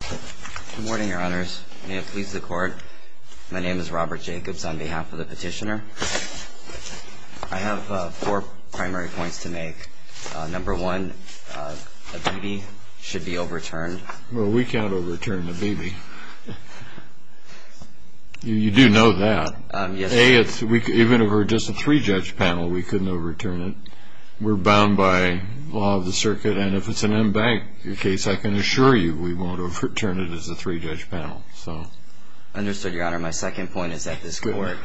Good morning, Your Honors. May it please the Court, my name is Robert Jacobs on behalf of the petitioner. I have four primary points to make. Number one, the BB should be overturned. Well, we can't overturn the BB. You do know that. Yes, sir. A, even if it were just a three-judge panel, we couldn't overturn it. We're bound by law of the circuit, and if it's an embanked case, I can assure you we won't overturn it as a three-judge panel. Understood, Your Honor. My second point is that this Court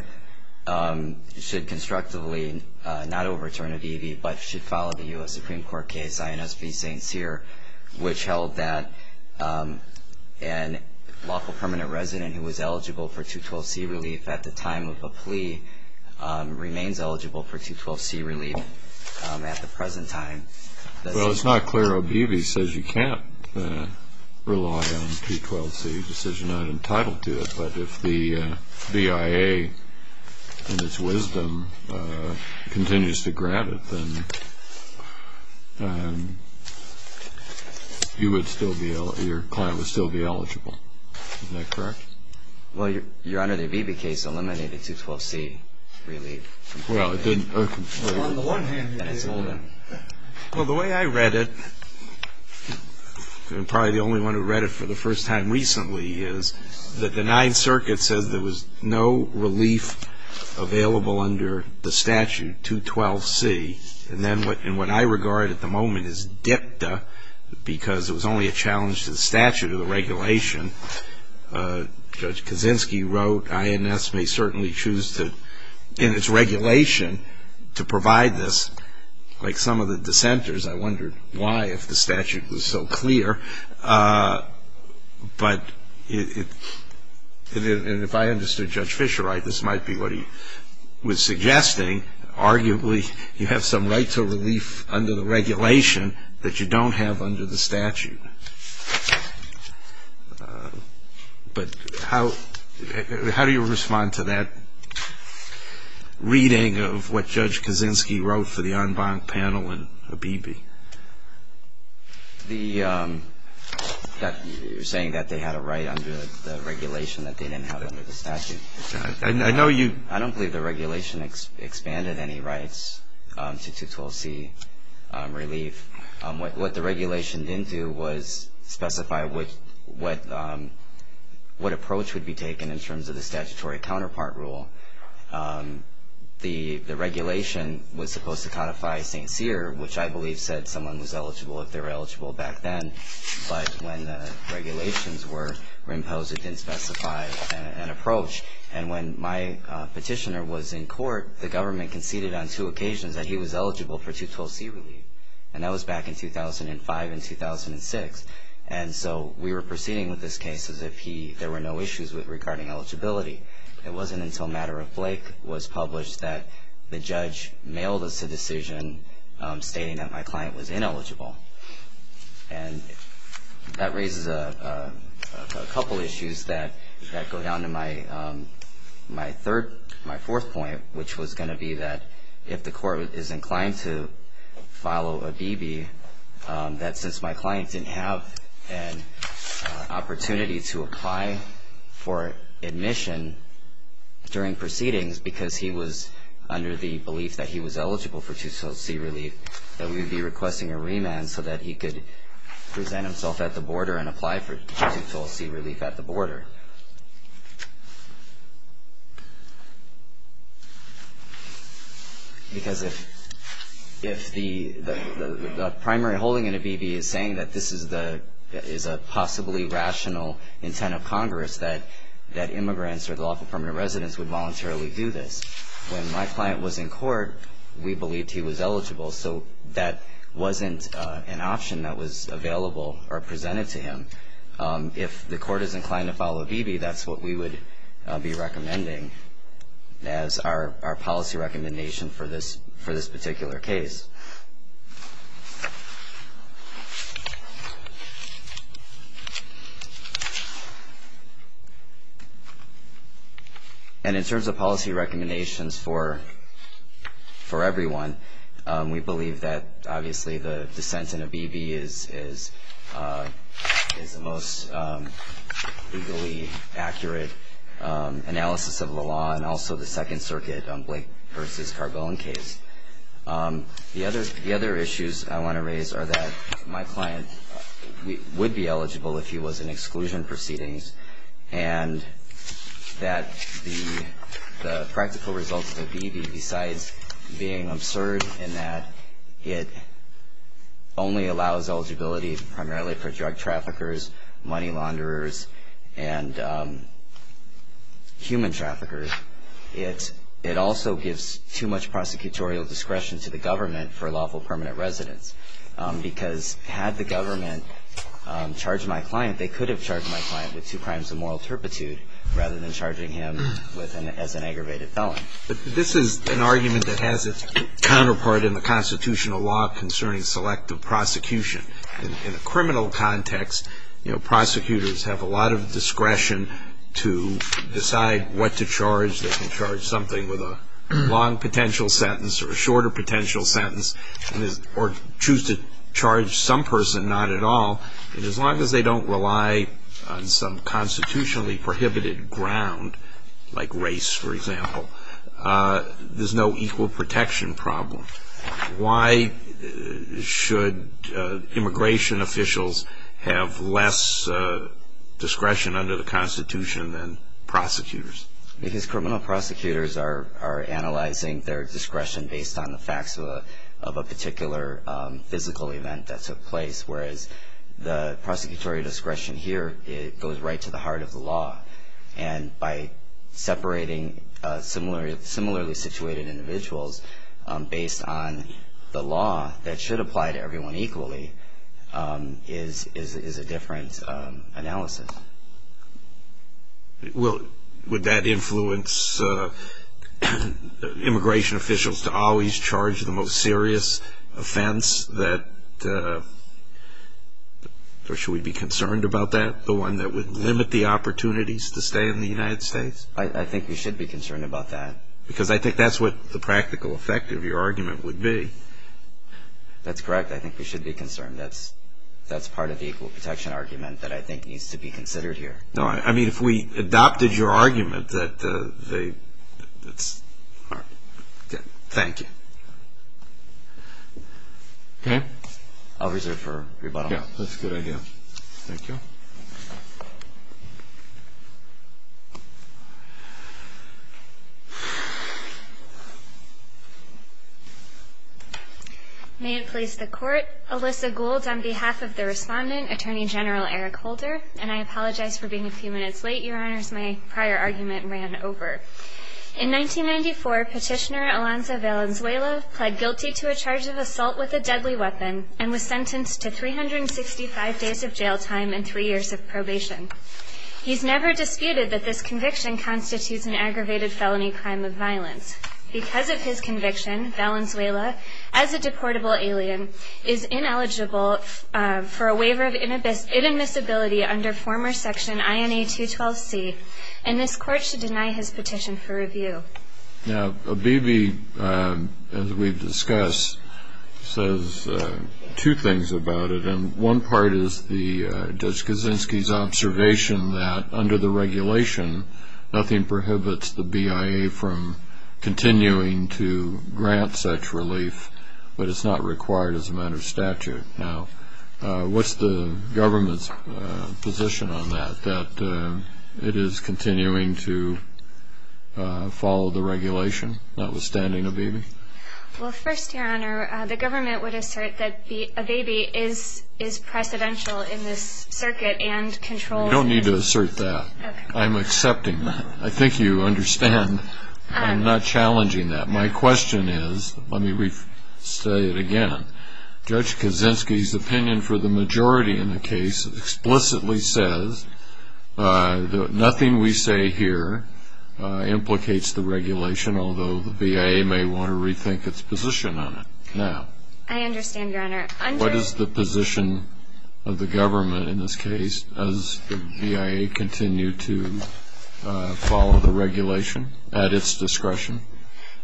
should constructively not overturn a BB, but should follow the U.S. Supreme Court case, INS v. St. Cyr, which held that an lawful permanent resident who was eligible for 212C relief at the time of a plea remains eligible for 212C relief at the present time. Well, it's not clear a BB says you can't rely on a 212C decision. You're not entitled to it, but if the BIA, in its wisdom, continues to grant it, then your client would still be eligible. Is that correct? Well, Your Honor, the BB case eliminated 212C relief. Well, it didn't. On the one hand, yes. Well, the way I read it, and I'm probably the only one who read it for the first time recently, is that the Ninth Circuit says there was no relief available under the statute, 212C, and then what I regard at the moment is dicta, because it was only a challenge to the statute or the regulation. Judge Kaczynski wrote, INS may certainly choose to, in its regulation, to provide this. Like some of the dissenters, I wondered why, if the statute was so clear. But if I understood Judge Fischer right, this might be what he was suggesting. Arguably, you have some right to relief under the regulation that you don't have under the statute. But how do you respond to that reading of what Judge Kaczynski wrote for the en banc panel and a BB? You're saying that they had a right under the regulation that they didn't have under the statute. I don't believe the regulation expanded any rights to 212C relief. What the regulation didn't do was specify what approach would be taken in terms of the statutory counterpart rule. The regulation was supposed to codify St. Cyr, which I believe said someone was eligible if they were eligible back then. But when the regulations were imposed, it didn't specify an approach. And when my petitioner was in court, the government conceded on two occasions that he was eligible for 212C relief. And that was back in 2005 and 2006. And so we were proceeding with this case as if there were no issues regarding eligibility. It wasn't until Matter of Blake was published that the judge mailed us a decision stating that my client was ineligible. And that raises a couple issues that go down to my fourth point, which was going to be that if the court is inclined to follow a BB, that since my client didn't have an opportunity to apply for admission during proceedings because he was under the belief that he was eligible for 212C relief, that we would be requesting a remand so that he could present himself at the border and apply for 212C relief at the border. Because if the primary holding in a BB is saying that this is a possibly rational intent of Congress, that immigrants or the lawful permanent residents would voluntarily do this. When my client was in court, we believed he was eligible, so that wasn't an option that was available or presented to him. If the court is inclined to follow a BB, that's what we would be recommending as our policy recommendation for this particular case. And in terms of policy recommendations for everyone, we believe that obviously the dissent in a BB is the most legally accurate analysis of the law, and also the Second Circuit Blake v. Carbone case. The other issues I want to raise are that my client would be eligible if he was in exclusion proceedings, and that the practical results of a BB, besides being absurd in that it only allows eligibility primarily for drug traffickers, money launderers, and human traffickers, it also gives too much prosecutorial discretion to the government for lawful permanent residents. Because had the government charged my client, they could have charged my client with two crimes of moral turpitude rather than charging him as an aggravated felon. This is an argument that has its counterpart in the constitutional law concerning selective prosecution. In a criminal context, prosecutors have a lot of discretion to decide what to charge. They can charge something with a long potential sentence or a shorter potential sentence, or choose to charge some person not at all. And as long as they don't rely on some constitutionally prohibited ground, like race, for example, there's no equal protection problem. Why should immigration officials have less discretion under the constitution than prosecutors? Because criminal prosecutors are analyzing their discretion based on the facts of a particular physical event that took place, whereas the prosecutorial discretion here goes right to the heart of the law. And by separating similarly situated individuals based on the law that should apply to everyone equally is a different analysis. Would that influence immigration officials to always charge the most serious offense? Or should we be concerned about that, the one that would limit the opportunities to stay in the United States? I think we should be concerned about that. Because I think that's what the practical effect of your argument would be. That's correct. I think we should be concerned. That's part of the equal protection argument that I think needs to be considered here. No, I mean, if we adopted your argument that they... Thank you. Okay. I'll reserve for rebuttal. Yeah, that's a good idea. Thank you. May it please the court. I'm here, Alyssa Gould, on behalf of the respondent, Attorney General Eric Holder, and I apologize for being a few minutes late. Your Honors, my prior argument ran over. In 1994, Petitioner Alonzo Valenzuela pled guilty to a charge of assault with a deadly weapon and was sentenced to 365 days of jail time and three years of probation. He's never disputed that this conviction constitutes an aggravated felony crime of violence. Because of his conviction, Valenzuela, as a deportable alien, is ineligible for a waiver of inadmissibility under former section INA 212C, and this court should deny his petition for review. Now, O'Beebe, as we've discussed, says two things about it, and one part is Judge Kaczynski's observation that under the regulation, nothing prohibits the BIA from continuing to grant such relief, but it's not required as a matter of statute. Now, what's the government's position on that, that it is continuing to follow the regulation, notwithstanding O'Beebe? Well, first, Your Honor, the government would assert that O'Beebe is precedential in this circuit and controls it. You don't need to assert that. I'm accepting that. I think you understand I'm not challenging that. My question is, let me say it again, Judge Kaczynski's opinion for the majority in the case explicitly says that nothing we say here implicates the regulation, although the BIA may want to rethink its position on it now. I understand, Your Honor. What is the position of the government in this case as the BIA continue to follow the regulation at its discretion?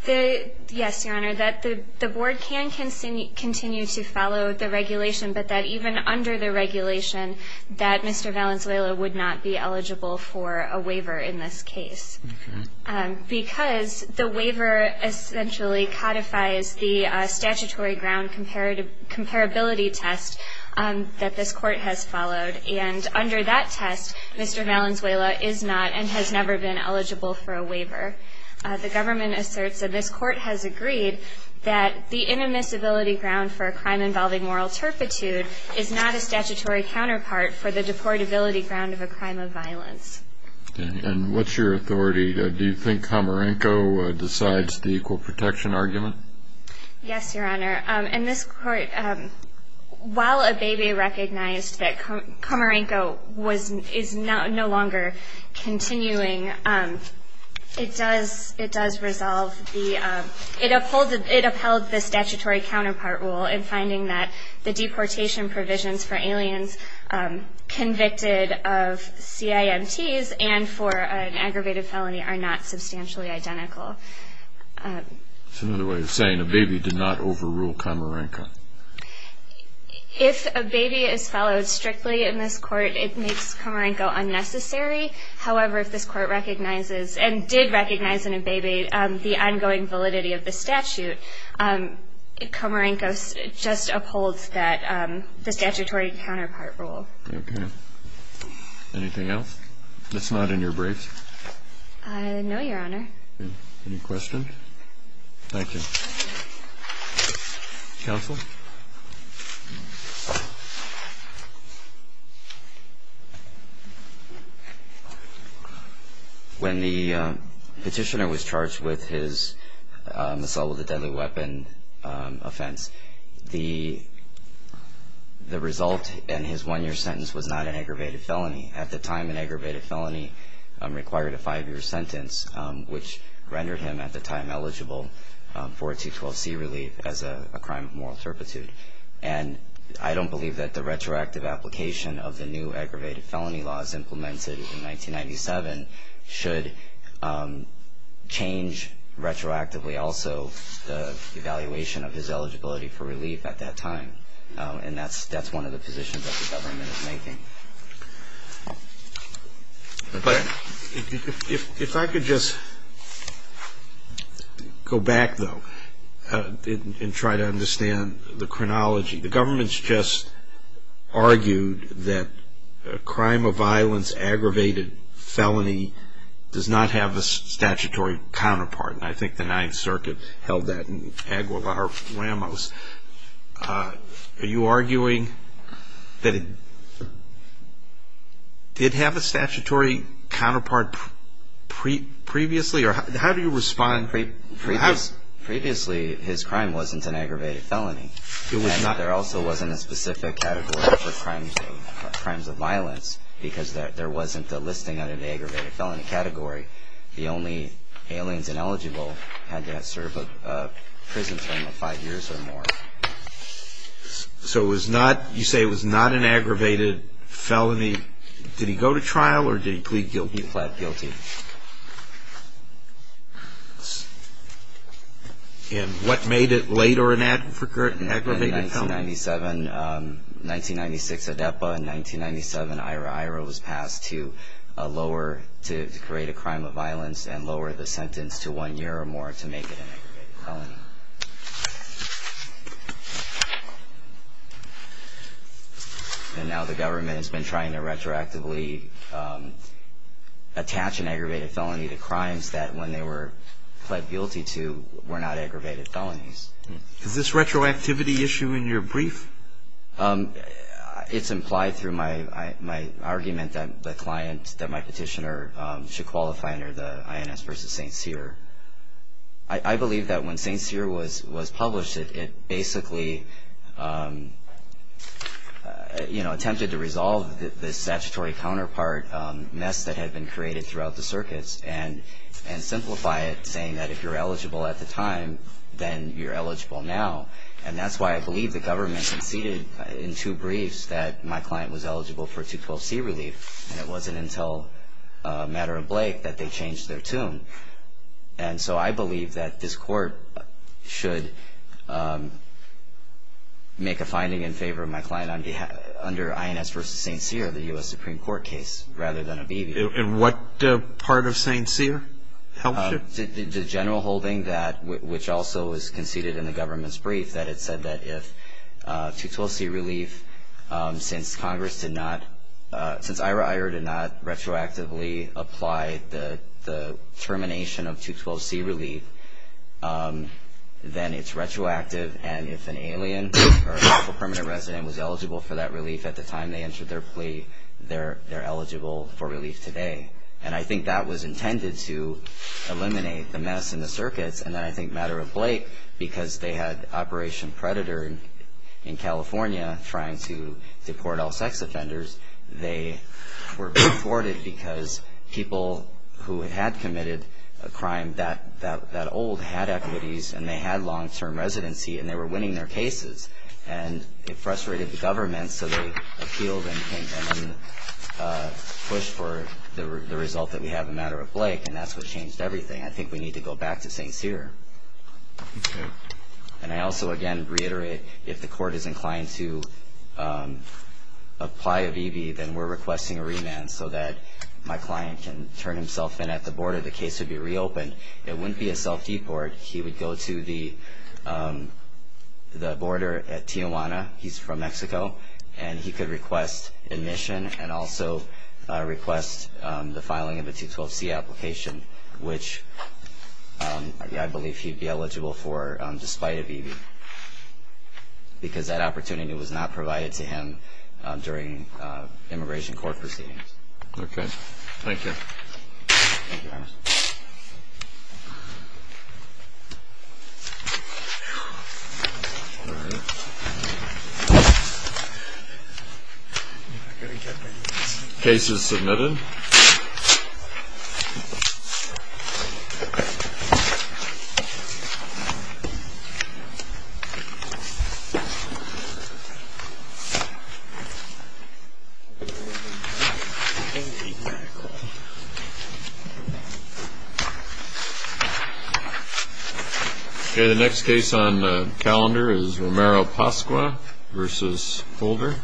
Yes, Your Honor, that the board can continue to follow the regulation, but that even under the regulation that Mr. Valenzuela would not be eligible for a waiver in this case. Okay. And what's your authority? In this court, Mr. Valenzuela is not eligible for a waiver. The government asserts that this court has agreed that the inimicability ground for a crime involving moral turpitude is not a statutory counterpart for the deportability ground of a crime of violence. Okay. And what's your authority? Do you think Komarenko decides the equal protection argument? Yes, Your Honor. In this court, while Abebe recognized that Komarenko is no longer continuing, it does resolve the ‑‑ it upheld the statutory counterpart rule in finding that the deportation provisions for aliens convicted of CIMTs and for an aggravated felony are not substantially identical. That's another way of saying Abebe did not overrule Komarenko. If Abebe is followed strictly in this court, it makes Komarenko unnecessary. However, if this court recognizes and did recognize in Abebe the ongoing validity of the statute, Komarenko just upholds the statutory counterpart rule. Okay. Anything else that's not in your briefs? No, Your Honor. Any questions? Thank you. Counsel? When the petitioner was charged with his assault with a deadly weapon offense, the result in his one‑year sentence was not an aggravated felony. At the time, an aggravated felony required a five‑year sentence, which rendered him at the time eligible for a 212C relief as a crime of moral turpitude. And I don't believe that the retroactive application of the new aggravated felony laws implemented in 1997 should change retroactively also the evaluation of his eligibility for relief at that time. And that's one of the positions that the government is making. If I could just go back, though, and try to understand the chronology. The government's just argued that a crime of violence, aggravated felony, does not have a statutory counterpart. And I think the Ninth Circuit held that in Aguilar Ramos. Are you arguing that it did have a statutory counterpart previously? How do you respond? Previously, his crime wasn't an aggravated felony. And there also wasn't a specific category for crimes of violence because there wasn't a listing under the aggravated felony category. The only aliens ineligible had to serve a prison term of five years or more. So you say it was not an aggravated felony. Did he go to trial or did he plead guilty? He pled guilty. And what made it later an aggravated felony? In 1997, 1996, ADEPA. In 1997, IRA. IRA was passed to lower, to create a crime of violence and lower the sentence to one year or more to make it an aggravated felony. And now the government has been trying to retroactively attach an aggravated felony to crimes that when they were pled guilty to were not aggravated felonies. Is this retroactivity issue in your brief? It's implied through my argument that the client, that my petitioner, should qualify under the INS v. St. Cyr. I believe that when St. Cyr was published, it basically, you know, attempted to resolve the statutory counterpart mess that had been created throughout the circuits and simplify it saying that if you're eligible at the time, then you're eligible now. And that's why I believe the government conceded in two briefs that my client was eligible for 212C relief. And it wasn't until a matter of Blake that they changed their tune. And so I believe that this court should make a finding in favor of my client under INS v. St. Cyr, the U.S. Supreme Court case, rather than obviate it. And what part of St. Cyr helps you? The general holding that, which also was conceded in the government's brief, that it said that if 212C relief, since Congress did not, since Ira Iyer did not retroactively apply the termination of 212C relief, then it's retroactive. And if an alien or a permanent resident was eligible for that relief at the time they entered their plea, they're eligible for relief today. And I think that was intended to eliminate the mess in the circuits. And then I think a matter of Blake, because they had Operation Predator in California trying to deport all sex offenders, they were deported because people who had committed a crime that old had equities and they had long-term residency and they were winning their cases. And it frustrated the government, so they appealed and then pushed for the result that we have, a matter of Blake, and that's what changed everything. I think we need to go back to St. Cyr. And I also, again, reiterate, if the court is inclined to apply a VB, then we're requesting a remand so that my client can turn himself in at the border. The case would be reopened. It wouldn't be a self-deport. He would go to the border at Tijuana. He's from Mexico. And he could request admission and also request the filing of a 212C application, which I believe he would be eligible for despite a VB because that opportunity was not provided to him during immigration court proceedings. Okay. Thank you, Your Honor. All right. Case is submitted. Thank you. Okay, the next case on the calendar is Romero-Pasqua v. Holder.